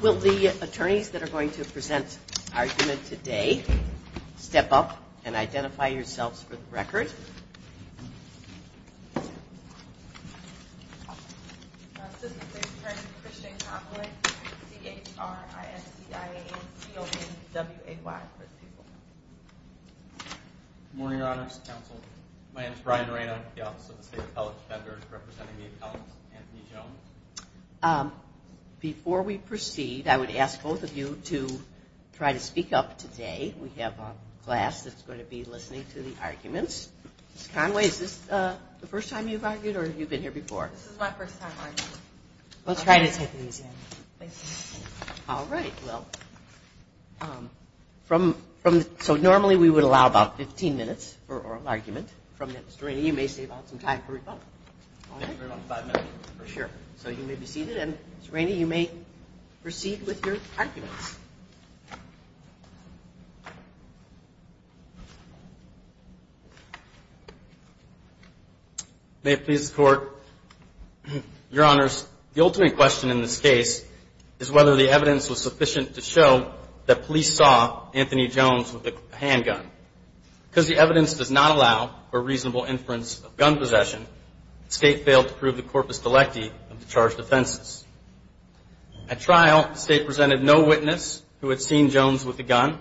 Will the attorneys that are going to present argument today step up and identify yourselves for the record? Before we proceed, I would ask both of you to try to speak up today. We have a class that's going to be listening to the arguments. Ms. Conway, is this the first time you've argued or have you been here before? This is my first time arguing. Let's try to take it easy on you. All right, well, so normally we would allow about 15 minutes for oral argument. Mr. Rainey, you may save up some time for rebuttal. So you may be seated, and Mr. Rainey, you may proceed with your arguments. May it please the Court, Your Honors, the ultimate question in this case is whether the evidence was sufficient to show that police saw Anthony Jones with a handgun. Because the evidence does not allow for reasonable inference of gun possession, the State failed to prove the corpus delecti of the charged offenses. At trial, the State presented no witness who had seen Jones with a gun.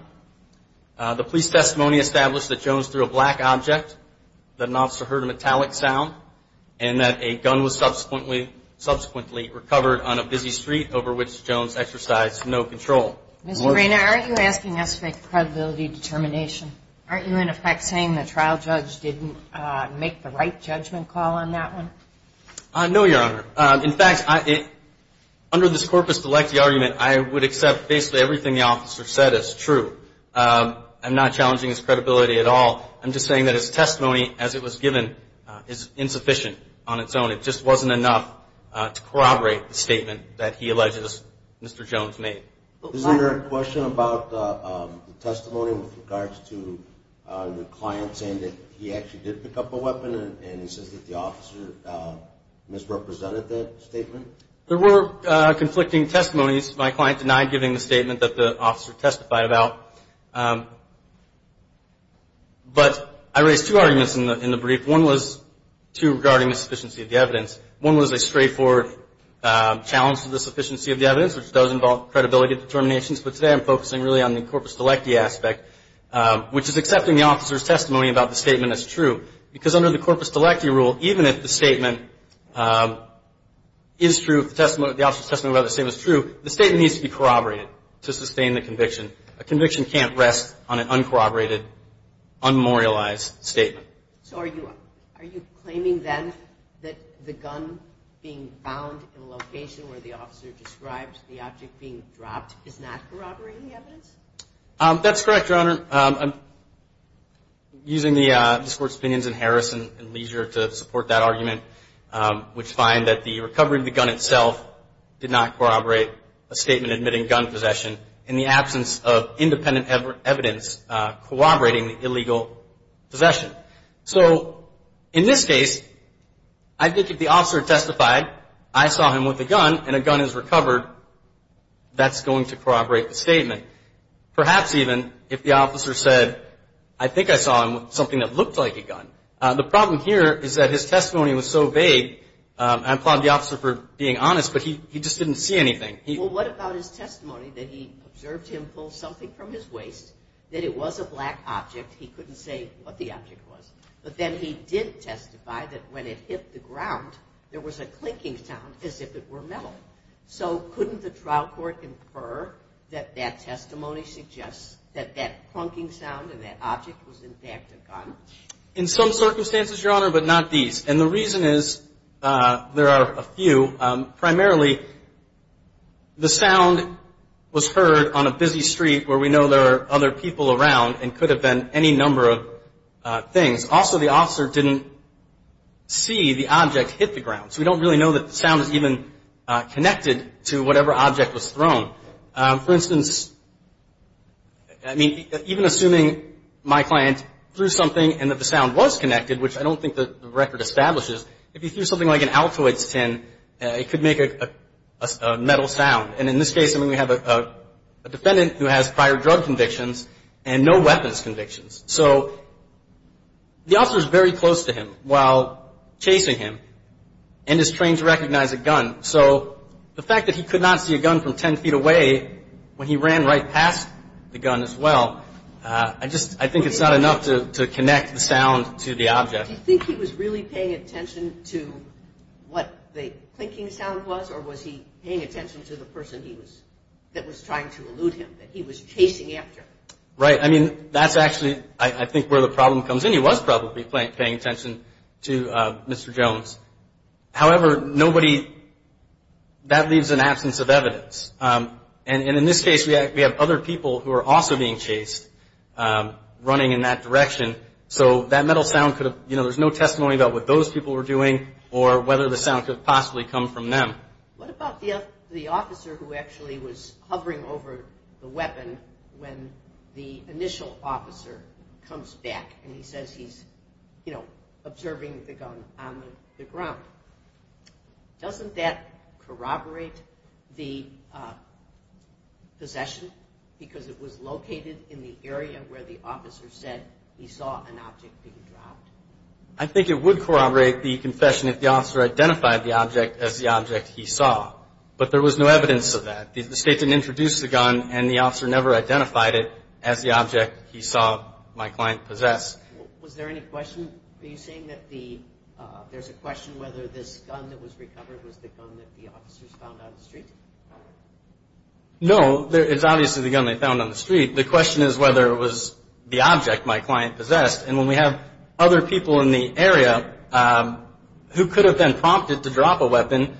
The police testimony established that Jones threw a black object, that an officer heard a metallic sound, and that a gun was subsequently recovered on a busy street over which Jones exercised no control. Mr. Rainey, are you asking us to make a credibility determination? Aren't you, in effect, saying the trial judge didn't make the right judgment call on that one? No, Your Honor. In fact, under this corpus delecti argument, I would accept basically everything the officer said as true. I'm not challenging his credibility at all. I'm just saying that his testimony as it was given is insufficient on its own. It just wasn't enough to corroborate the statement that he alleges Mr. Jones made. Isn't there a question about the testimony with regards to the client saying that he actually did pick up a weapon and he says that the officer misrepresented that statement? There were conflicting testimonies. My client denied giving the statement that the officer testified about. But I raised two arguments in the brief. One was two regarding insufficiency of the evidence. One was a straightforward challenge to the sufficiency of the evidence, which does involve credibility determinations. But today I'm focusing really on the corpus delecti aspect, which is accepting the officer's testimony about the statement as true. Because under the corpus delecti rule, even if the statement is true, the officer's testimony about the statement is true, the statement needs to be corroborated to sustain the conviction. A conviction can't rest on an uncorroborated, unmemorialized statement. So are you claiming then that the gun being found in the location where the officer described the object being dropped is not corroborating the evidence? That's correct, Your Honor. I'm using the court's opinions in Harrison and Leisure to support that argument, which find that the recovery of the gun itself did not corroborate a statement admitting gun possession in the absence of independent evidence corroborating the illegal possession. So in this case, I think if the officer testified, I saw him with a gun and a gun is recovered, that's going to corroborate the statement. Perhaps even if the officer said, I think I saw him with something that looked like a gun. The problem here is that his testimony was so vague, I applaud the officer for being honest, but he just didn't see anything. Well, what about his testimony that he observed him pull something from his waist, that it was a black object, he couldn't say what the object was. But then he did testify that when it hit the ground, there was a clinking sound as if it were metal. So couldn't the trial court infer that that testimony suggests that that clunking sound and that object was in fact a gun? In some circumstances, Your Honor, but not these. And the reason is, there are a few. Primarily, the sound was heard on a busy street where we know there are other people around and could have been any number of things. Also, the officer didn't see the object hit the ground. So we don't really know that the sound is even connected to whatever object was thrown. For instance, I mean, even assuming my client threw something and that the sound was connected, which I don't think the record establishes, if he threw something like an Altoids tin, it could make a metal sound. And in this case, I mean, we have a defendant who has prior drug convictions and no weapons convictions. So the officer is very close to him while chasing him and is trained to recognize a gun. So the fact that he could not see a gun from ten feet away when he ran right past the gun as well, I think it's not enough to connect the sound to the object. Do you think he was really paying attention to what the clinking sound was or was he paying attention to the person that was trying to elude him, that he was chasing after? Right. I mean, that's actually, I think, where the problem comes in. He was probably paying attention to Mr. Jones. However, nobody, that leaves an absence of evidence. And in this case, we have other people who are also being chased running in that direction. So that metal sound could have, you know, there's no testimony about what those people were doing or whether the sound could have possibly come from them. What about the officer who actually was hovering over the weapon when the initial officer comes back and he says he's, you know, observing the gun on the ground? Doesn't that corroborate the possession? Because it was located in the area where the officer said he saw an object being dropped. I think it would corroborate the confession if the officer identified the object as the object he saw. But there was no evidence of that. The state didn't introduce the gun and the officer never identified it as the object he saw my client possess. Was there any question? Are you saying that there's a question whether this gun that was recovered was the gun that the officers found on the street? No. It's obviously the gun they found on the street. The question is whether it was the object my client possessed. And when we have other people in the area who could have been prompted to drop a weapon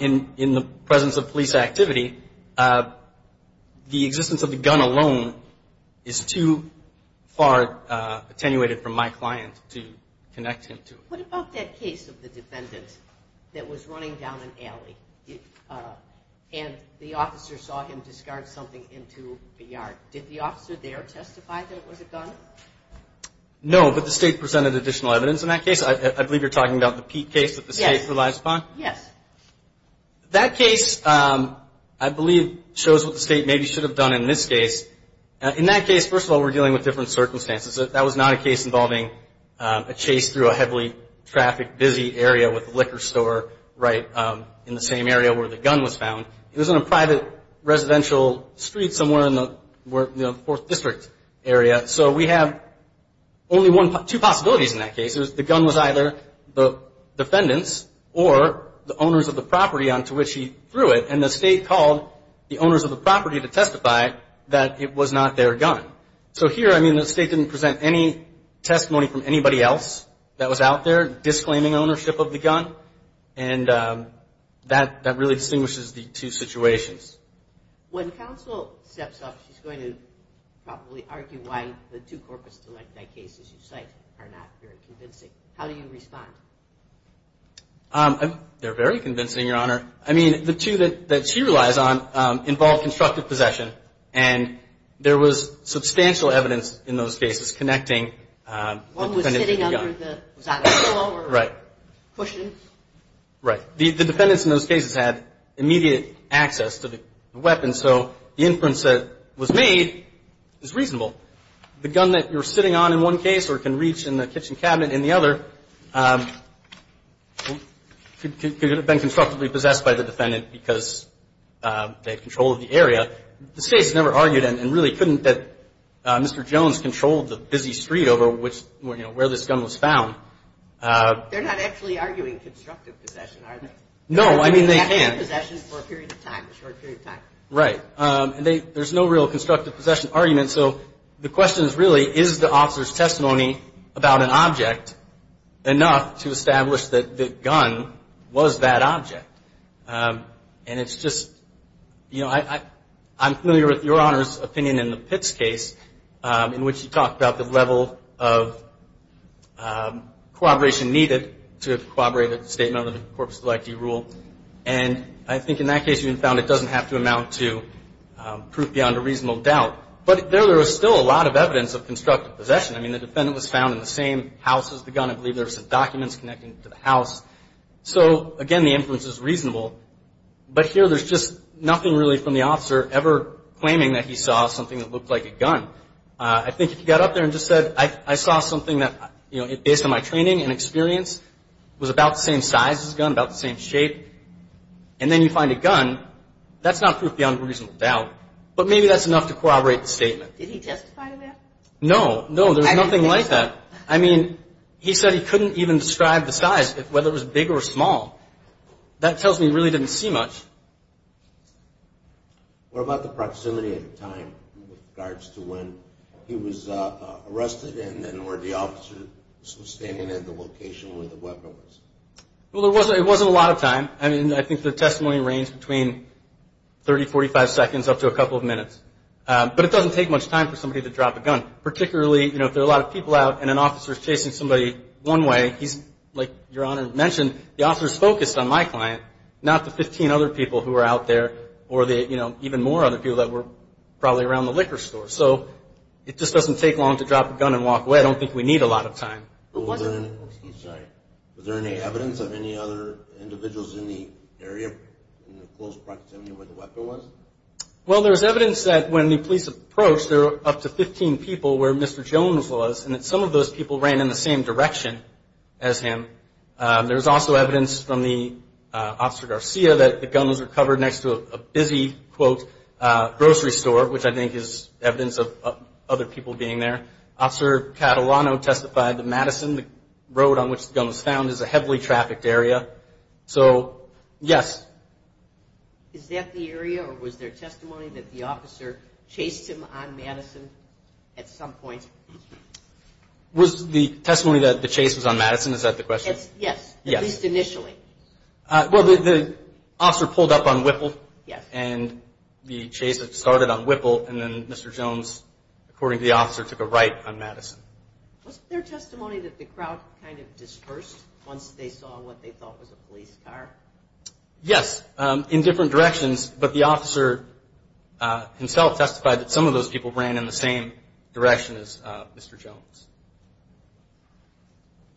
in the presence of police activity, the existence of the gun alone is too far attenuated from my client to connect him to it. What about that case of the defendant that was running down an alley and the officer saw him discard something into a yard? Did the officer there testify that it was a gun? No, but the state presented additional evidence in that case. I believe you're talking about the Pete case that the state relies upon? Yes. That case, I believe, shows what the state maybe should have done in this case. In that case, first of all, we're dealing with different circumstances. That was not a case involving a chase through a heavily trafficked, busy area with a liquor store right in the same area where the gun was found. It was in a private residential street somewhere in the Fourth District area. So we have only two possibilities in that case. The gun was either the defendant's or the owner's of the property to which he threw it, and the state called the owner's of the property to testify that it was not their gun. So here, I mean, the state didn't present any testimony from anybody else that was out there disclaiming ownership of the gun, and that really distinguishes the two situations. When counsel steps up, she's going to probably argue why the two corpus delicti cases you cite are not very convincing. How do you respond? They're very convincing, Your Honor. I mean, the two that she relies on involve constructive possession, and there was substantial evidence in those cases connecting the defendant to the gun. One was sitting under the, was that a pillow or cushions? Right. The defendants in those cases had immediate access to the weapon, so the inference that was made is reasonable. The gun that you're sitting on in one case or can reach in the kitchen cabinet in the other could have been constructively possessed by the defendant because they had control of the area. The state has never argued and really couldn't that Mr. Jones controlled the busy street over which, you know, where this gun was found. They're not actually arguing constructive possession, are they? No, I mean, they can. They're arguing constructive possession for a period of time, a short period of time. Right. And there's no real constructive possession argument, so the question is really, is the officer's testimony about an object enough to establish that the gun was that object? And it's just, you know, I'm familiar with Your Honor's opinion in the Pitts case, in which you talked about the level of corroboration needed to corroborate a statement under the Corpus Delicti rule. And I think in that case you found it doesn't have to amount to proof beyond a reasonable doubt. But there was still a lot of evidence of constructive possession. I mean, the defendant was found in the same house as the gun. I believe there were some documents connecting to the house. So, again, the inference is reasonable. But here there's just nothing really from the officer ever claiming that he saw something that looked like a gun. I think if he got up there and just said, I saw something that, you know, based on my training and experience was about the same size as a gun, about the same shape, and then you find a gun, that's not proof beyond a reasonable doubt. But maybe that's enough to corroborate the statement. Did he testify to that? No. No, there's nothing like that. I mean, he said he couldn't even describe the size, whether it was big or small. That tells me he really didn't see much. What about the proximity of time with regards to when he was arrested and where the officer was standing and the location where the weapon was? Well, it wasn't a lot of time. I mean, I think the testimony ranged between 30, 45 seconds up to a couple of minutes. But it doesn't take much time for somebody to drop a gun, particularly, you know, if there are a lot of people out and an officer is chasing somebody one way, he's, like Your Honor mentioned, the officer is focused on my client, not the 15 other people who are out there or, you know, even more other people that were probably around the liquor store. So it just doesn't take long to drop a gun and walk away. I don't think we need a lot of time. Was there any evidence of any other individuals in the area, in the close proximity of where the weapon was? Well, there was evidence that when the police approached, there were up to 15 people where Mr. Jones was, and that some of those people ran in the same direction as him. There was also evidence from the Officer Garcia that the gun was recovered next to a busy, quote, grocery store, which I think is evidence of other people being there. Officer Catalano testified that Madison, the road on which the gun was found, is a heavily trafficked area. So, yes. Is that the area, or was there testimony that the officer chased him on Madison at some point? Was the testimony that the chase was on Madison, is that the question? Yes, at least initially. Well, the officer pulled up on Whipple, and the chase started on Whipple, and then Mr. Jones, according to the officer, took a right on Madison. Was there testimony that the crowd kind of dispersed once they saw what they thought was a police car? Yes, in different directions, but the officer himself testified that some of those people ran in the same direction as Mr. Jones.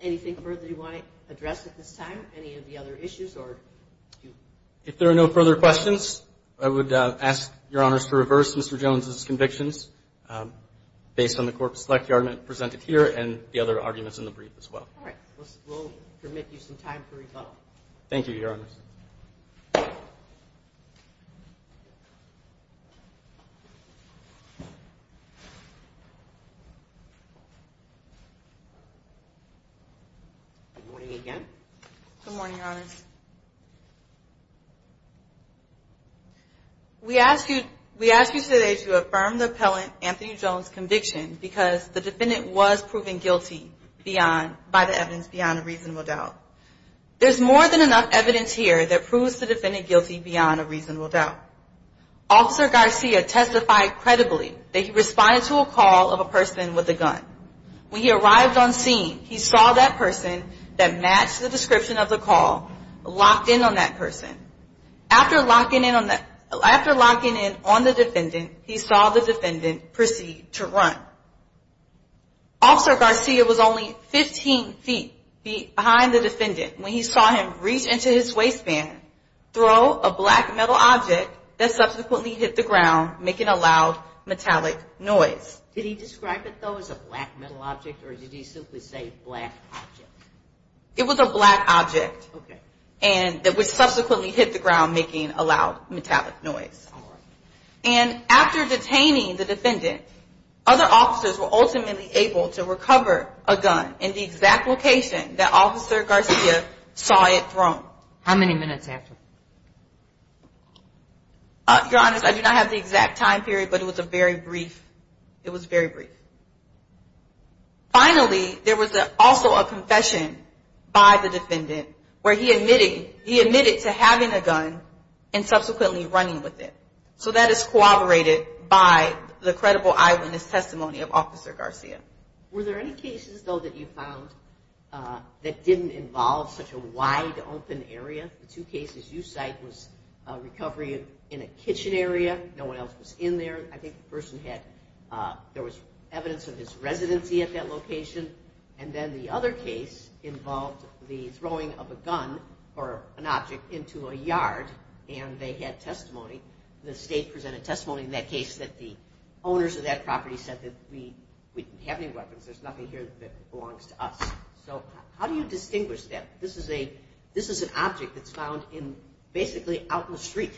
Anything further you want to address at this time? Any of the other issues? If there are no further questions, I would ask Your Honors to reverse Mr. Jones' convictions based on the court select argument presented here and the other arguments in the brief as well. All right. We'll permit you some time to rebuttal. Thank you, Your Honors. Good morning again. Good morning, Your Honors. We ask you today to affirm the appellant Anthony Jones' conviction because the defendant was proven guilty by the evidence beyond a reasonable doubt. There's more than enough evidence here that proves the defendant guilty beyond a reasonable doubt. Officer Garcia testified credibly that he responded to a call of a person with a gun. When he arrived on scene, he saw that person that matched the description of the call locked in on that person. After locking in on the defendant, he saw the defendant proceed to run. Officer Garcia was only 15 feet behind the defendant when he saw him reach into his waistband, throw a black metal object that subsequently hit the ground, making a loud metallic noise. Did he describe it, though, as a black metal object, or did he simply say black object? It was a black object that subsequently hit the ground, making a loud metallic noise. And after detaining the defendant, other officers were ultimately able to recover a gun in the exact location that Officer Garcia saw it thrown. How many minutes after? Your Honors, I do not have the exact time period, but it was very brief. Finally, there was also a confession by the defendant where he admitted to having a gun and subsequently running with it. So that is corroborated by the credible eyewitness testimony of Officer Garcia. Were there any cases, though, that you found that didn't involve such a wide open area? The two cases you cite was recovery in a kitchen area, no one else was in there. I think the person had evidence of his residency at that location. And then the other case involved the throwing of a gun or an object into a yard, and they had testimony. The state presented testimony in that case that the owners of that property said that we didn't have any weapons, there's nothing here that belongs to us. So how do you distinguish that? This is an object that's found basically out in the street.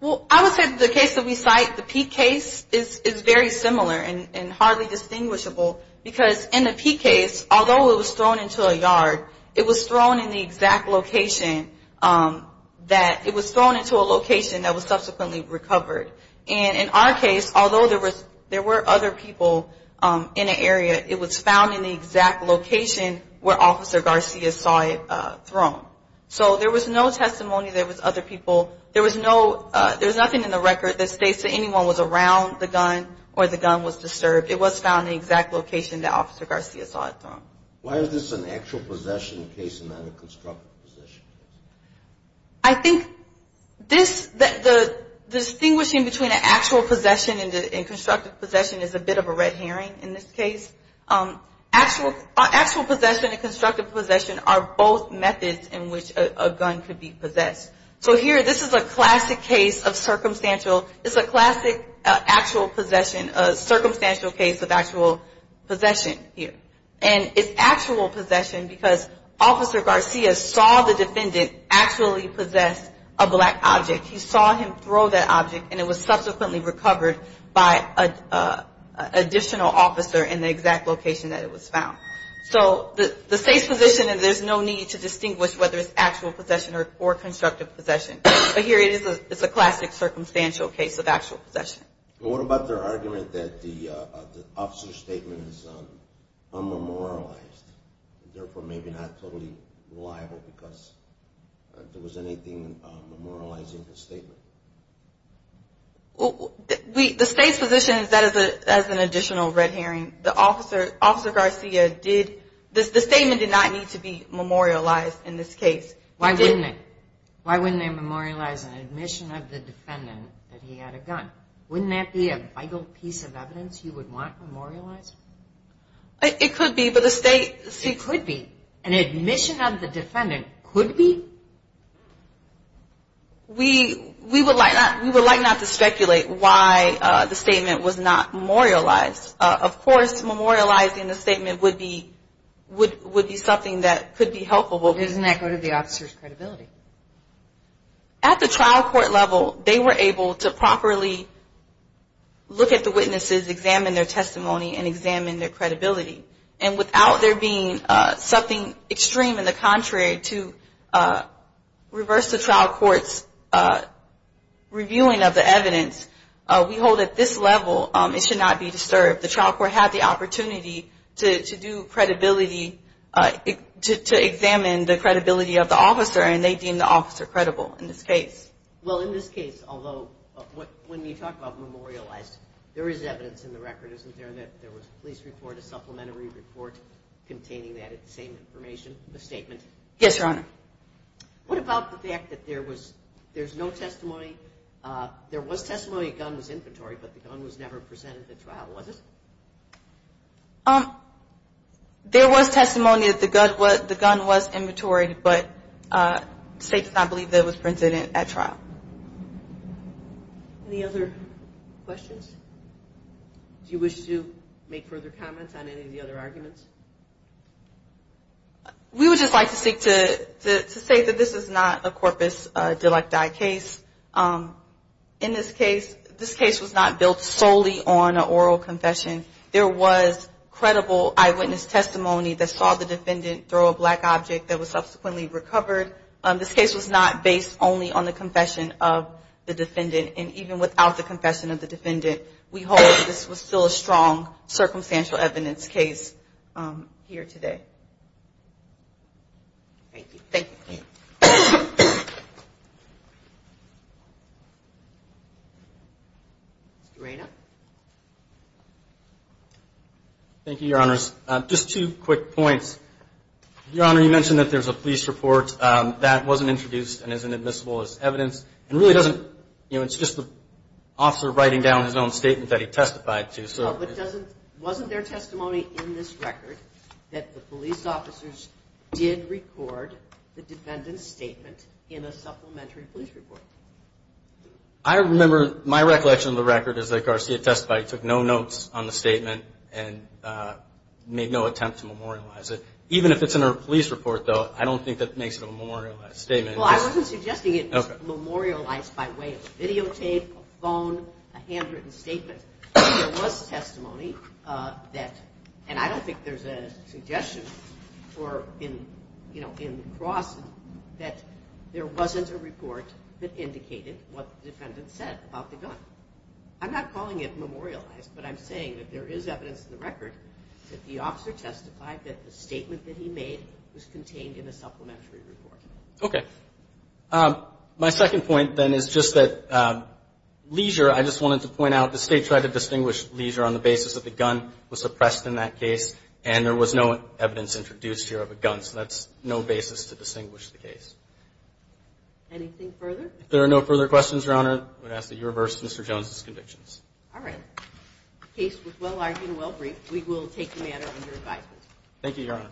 Well, I would say that the case that we cite, the P case, is very similar and hardly distinguishable, because in the P case, although it was thrown into a yard, it was thrown in the exact location that it was thrown into a location that was subsequently recovered. And in our case, although there were other people in the area, it was found in the exact location where Officer Garcia saw it thrown. So there was no testimony, there was other people. There was nothing in the record that states that anyone was around the gun or the gun was disturbed. It was found in the exact location that Officer Garcia saw it thrown. Why is this an actual possession case and not a constructive possession case? I think this, the distinguishing between an actual possession and constructive possession is a bit of a red herring in this case. Actual possession and constructive possession are both methods in which a gun could be possessed. So here, this is a classic case of circumstantial. It's a classic actual possession, a circumstantial case of actual possession here. And it's actual possession because Officer Garcia saw the defendant actually possess a black object. He saw him throw that object, and it was subsequently recovered by an additional officer in the exact location that it was found. So the state's position is there's no need to distinguish whether it's actual possession or constructive possession. But here it is a classic circumstantial case of actual possession. What about their argument that the officer's statement is unmemorialized, therefore maybe not totally liable because there was anything memorializing the statement? The state's position is that is an additional red herring. The statement did not need to be memorialized in this case. Why wouldn't it? Why wouldn't they memorialize an admission of the defendant that he had a gun? Wouldn't that be a vital piece of evidence you would want memorialized? It could be, but the state... It could be. An admission of the defendant could be? We would like not to speculate why the statement was not memorialized. Of course, memorializing the statement would be something that could be helpful. But doesn't that go to the officer's credibility? At the trial court level, they were able to properly look at the witnesses, examine their testimony, and examine their credibility. And without there being something extreme in the contrary to reverse the trial court's reviewing of the evidence, we hold at this level it should not be disturbed. The trial court had the opportunity to do credibility, to examine the credibility of the officer, and they deemed the officer credible in this case. Well, in this case, although when you talk about memorialized, there is evidence in the record, isn't there, that there was a police report, a supplementary report containing that same information, the statement? Yes, Your Honor. What about the fact that there was no testimony? There was testimony that the gun was inventory, but the gun was never presented at trial, was it? There was testimony that the gun was inventory, but the state did not believe that it was presented at trial. Any other questions? Do you wish to make further comments on any of the other arguments? We would just like to say that this is not a corpus delicti case. In this case, this case was not built solely on an oral confession. There was credible eyewitness testimony that saw the defendant throw a black object that was subsequently recovered. This case was not based only on the confession of the defendant, and even without the confession of the defendant, we hold that this was still a strong circumstantial evidence case here today. Thank you. Thank you, Your Honors. Thank you, Your Honors. Just two quick points. Your Honor, you mentioned that there's a police report that wasn't introduced and isn't admissible as evidence. It really doesn't, you know, it's just the officer writing down his own statement that he testified to. But wasn't there testimony in this record that the police officers did record the defendant's statement in a supplementary police report? I remember my recollection of the record is that Garcia testified, took no notes on the statement, and made no attempt to memorialize it. Even if it's in a police report, though, I don't think that makes it a memorialized statement. Well, I wasn't suggesting it was memorialized by way of videotape, a phone, a handwritten statement. There was testimony that, and I don't think there's a suggestion for, you know, in the cross, that there wasn't a report that indicated what the defendant said about the gun. I'm not calling it memorialized, but I'm saying that there is evidence in the record that the officer testified that the statement that he made was contained in a supplementary report. Okay. My second point, then, is just that Leisure, I just wanted to point out, the State tried to distinguish Leisure on the basis that the gun was suppressed in that case, and there was no evidence introduced here of a gun. So that's no basis to distinguish the case. Anything further? If there are no further questions, Your Honor, I would ask that you reverse Mr. Jones's convictions. All right. The case was well-argued and well-briefed. We will take the matter under advisement. Thank you, Your Honor.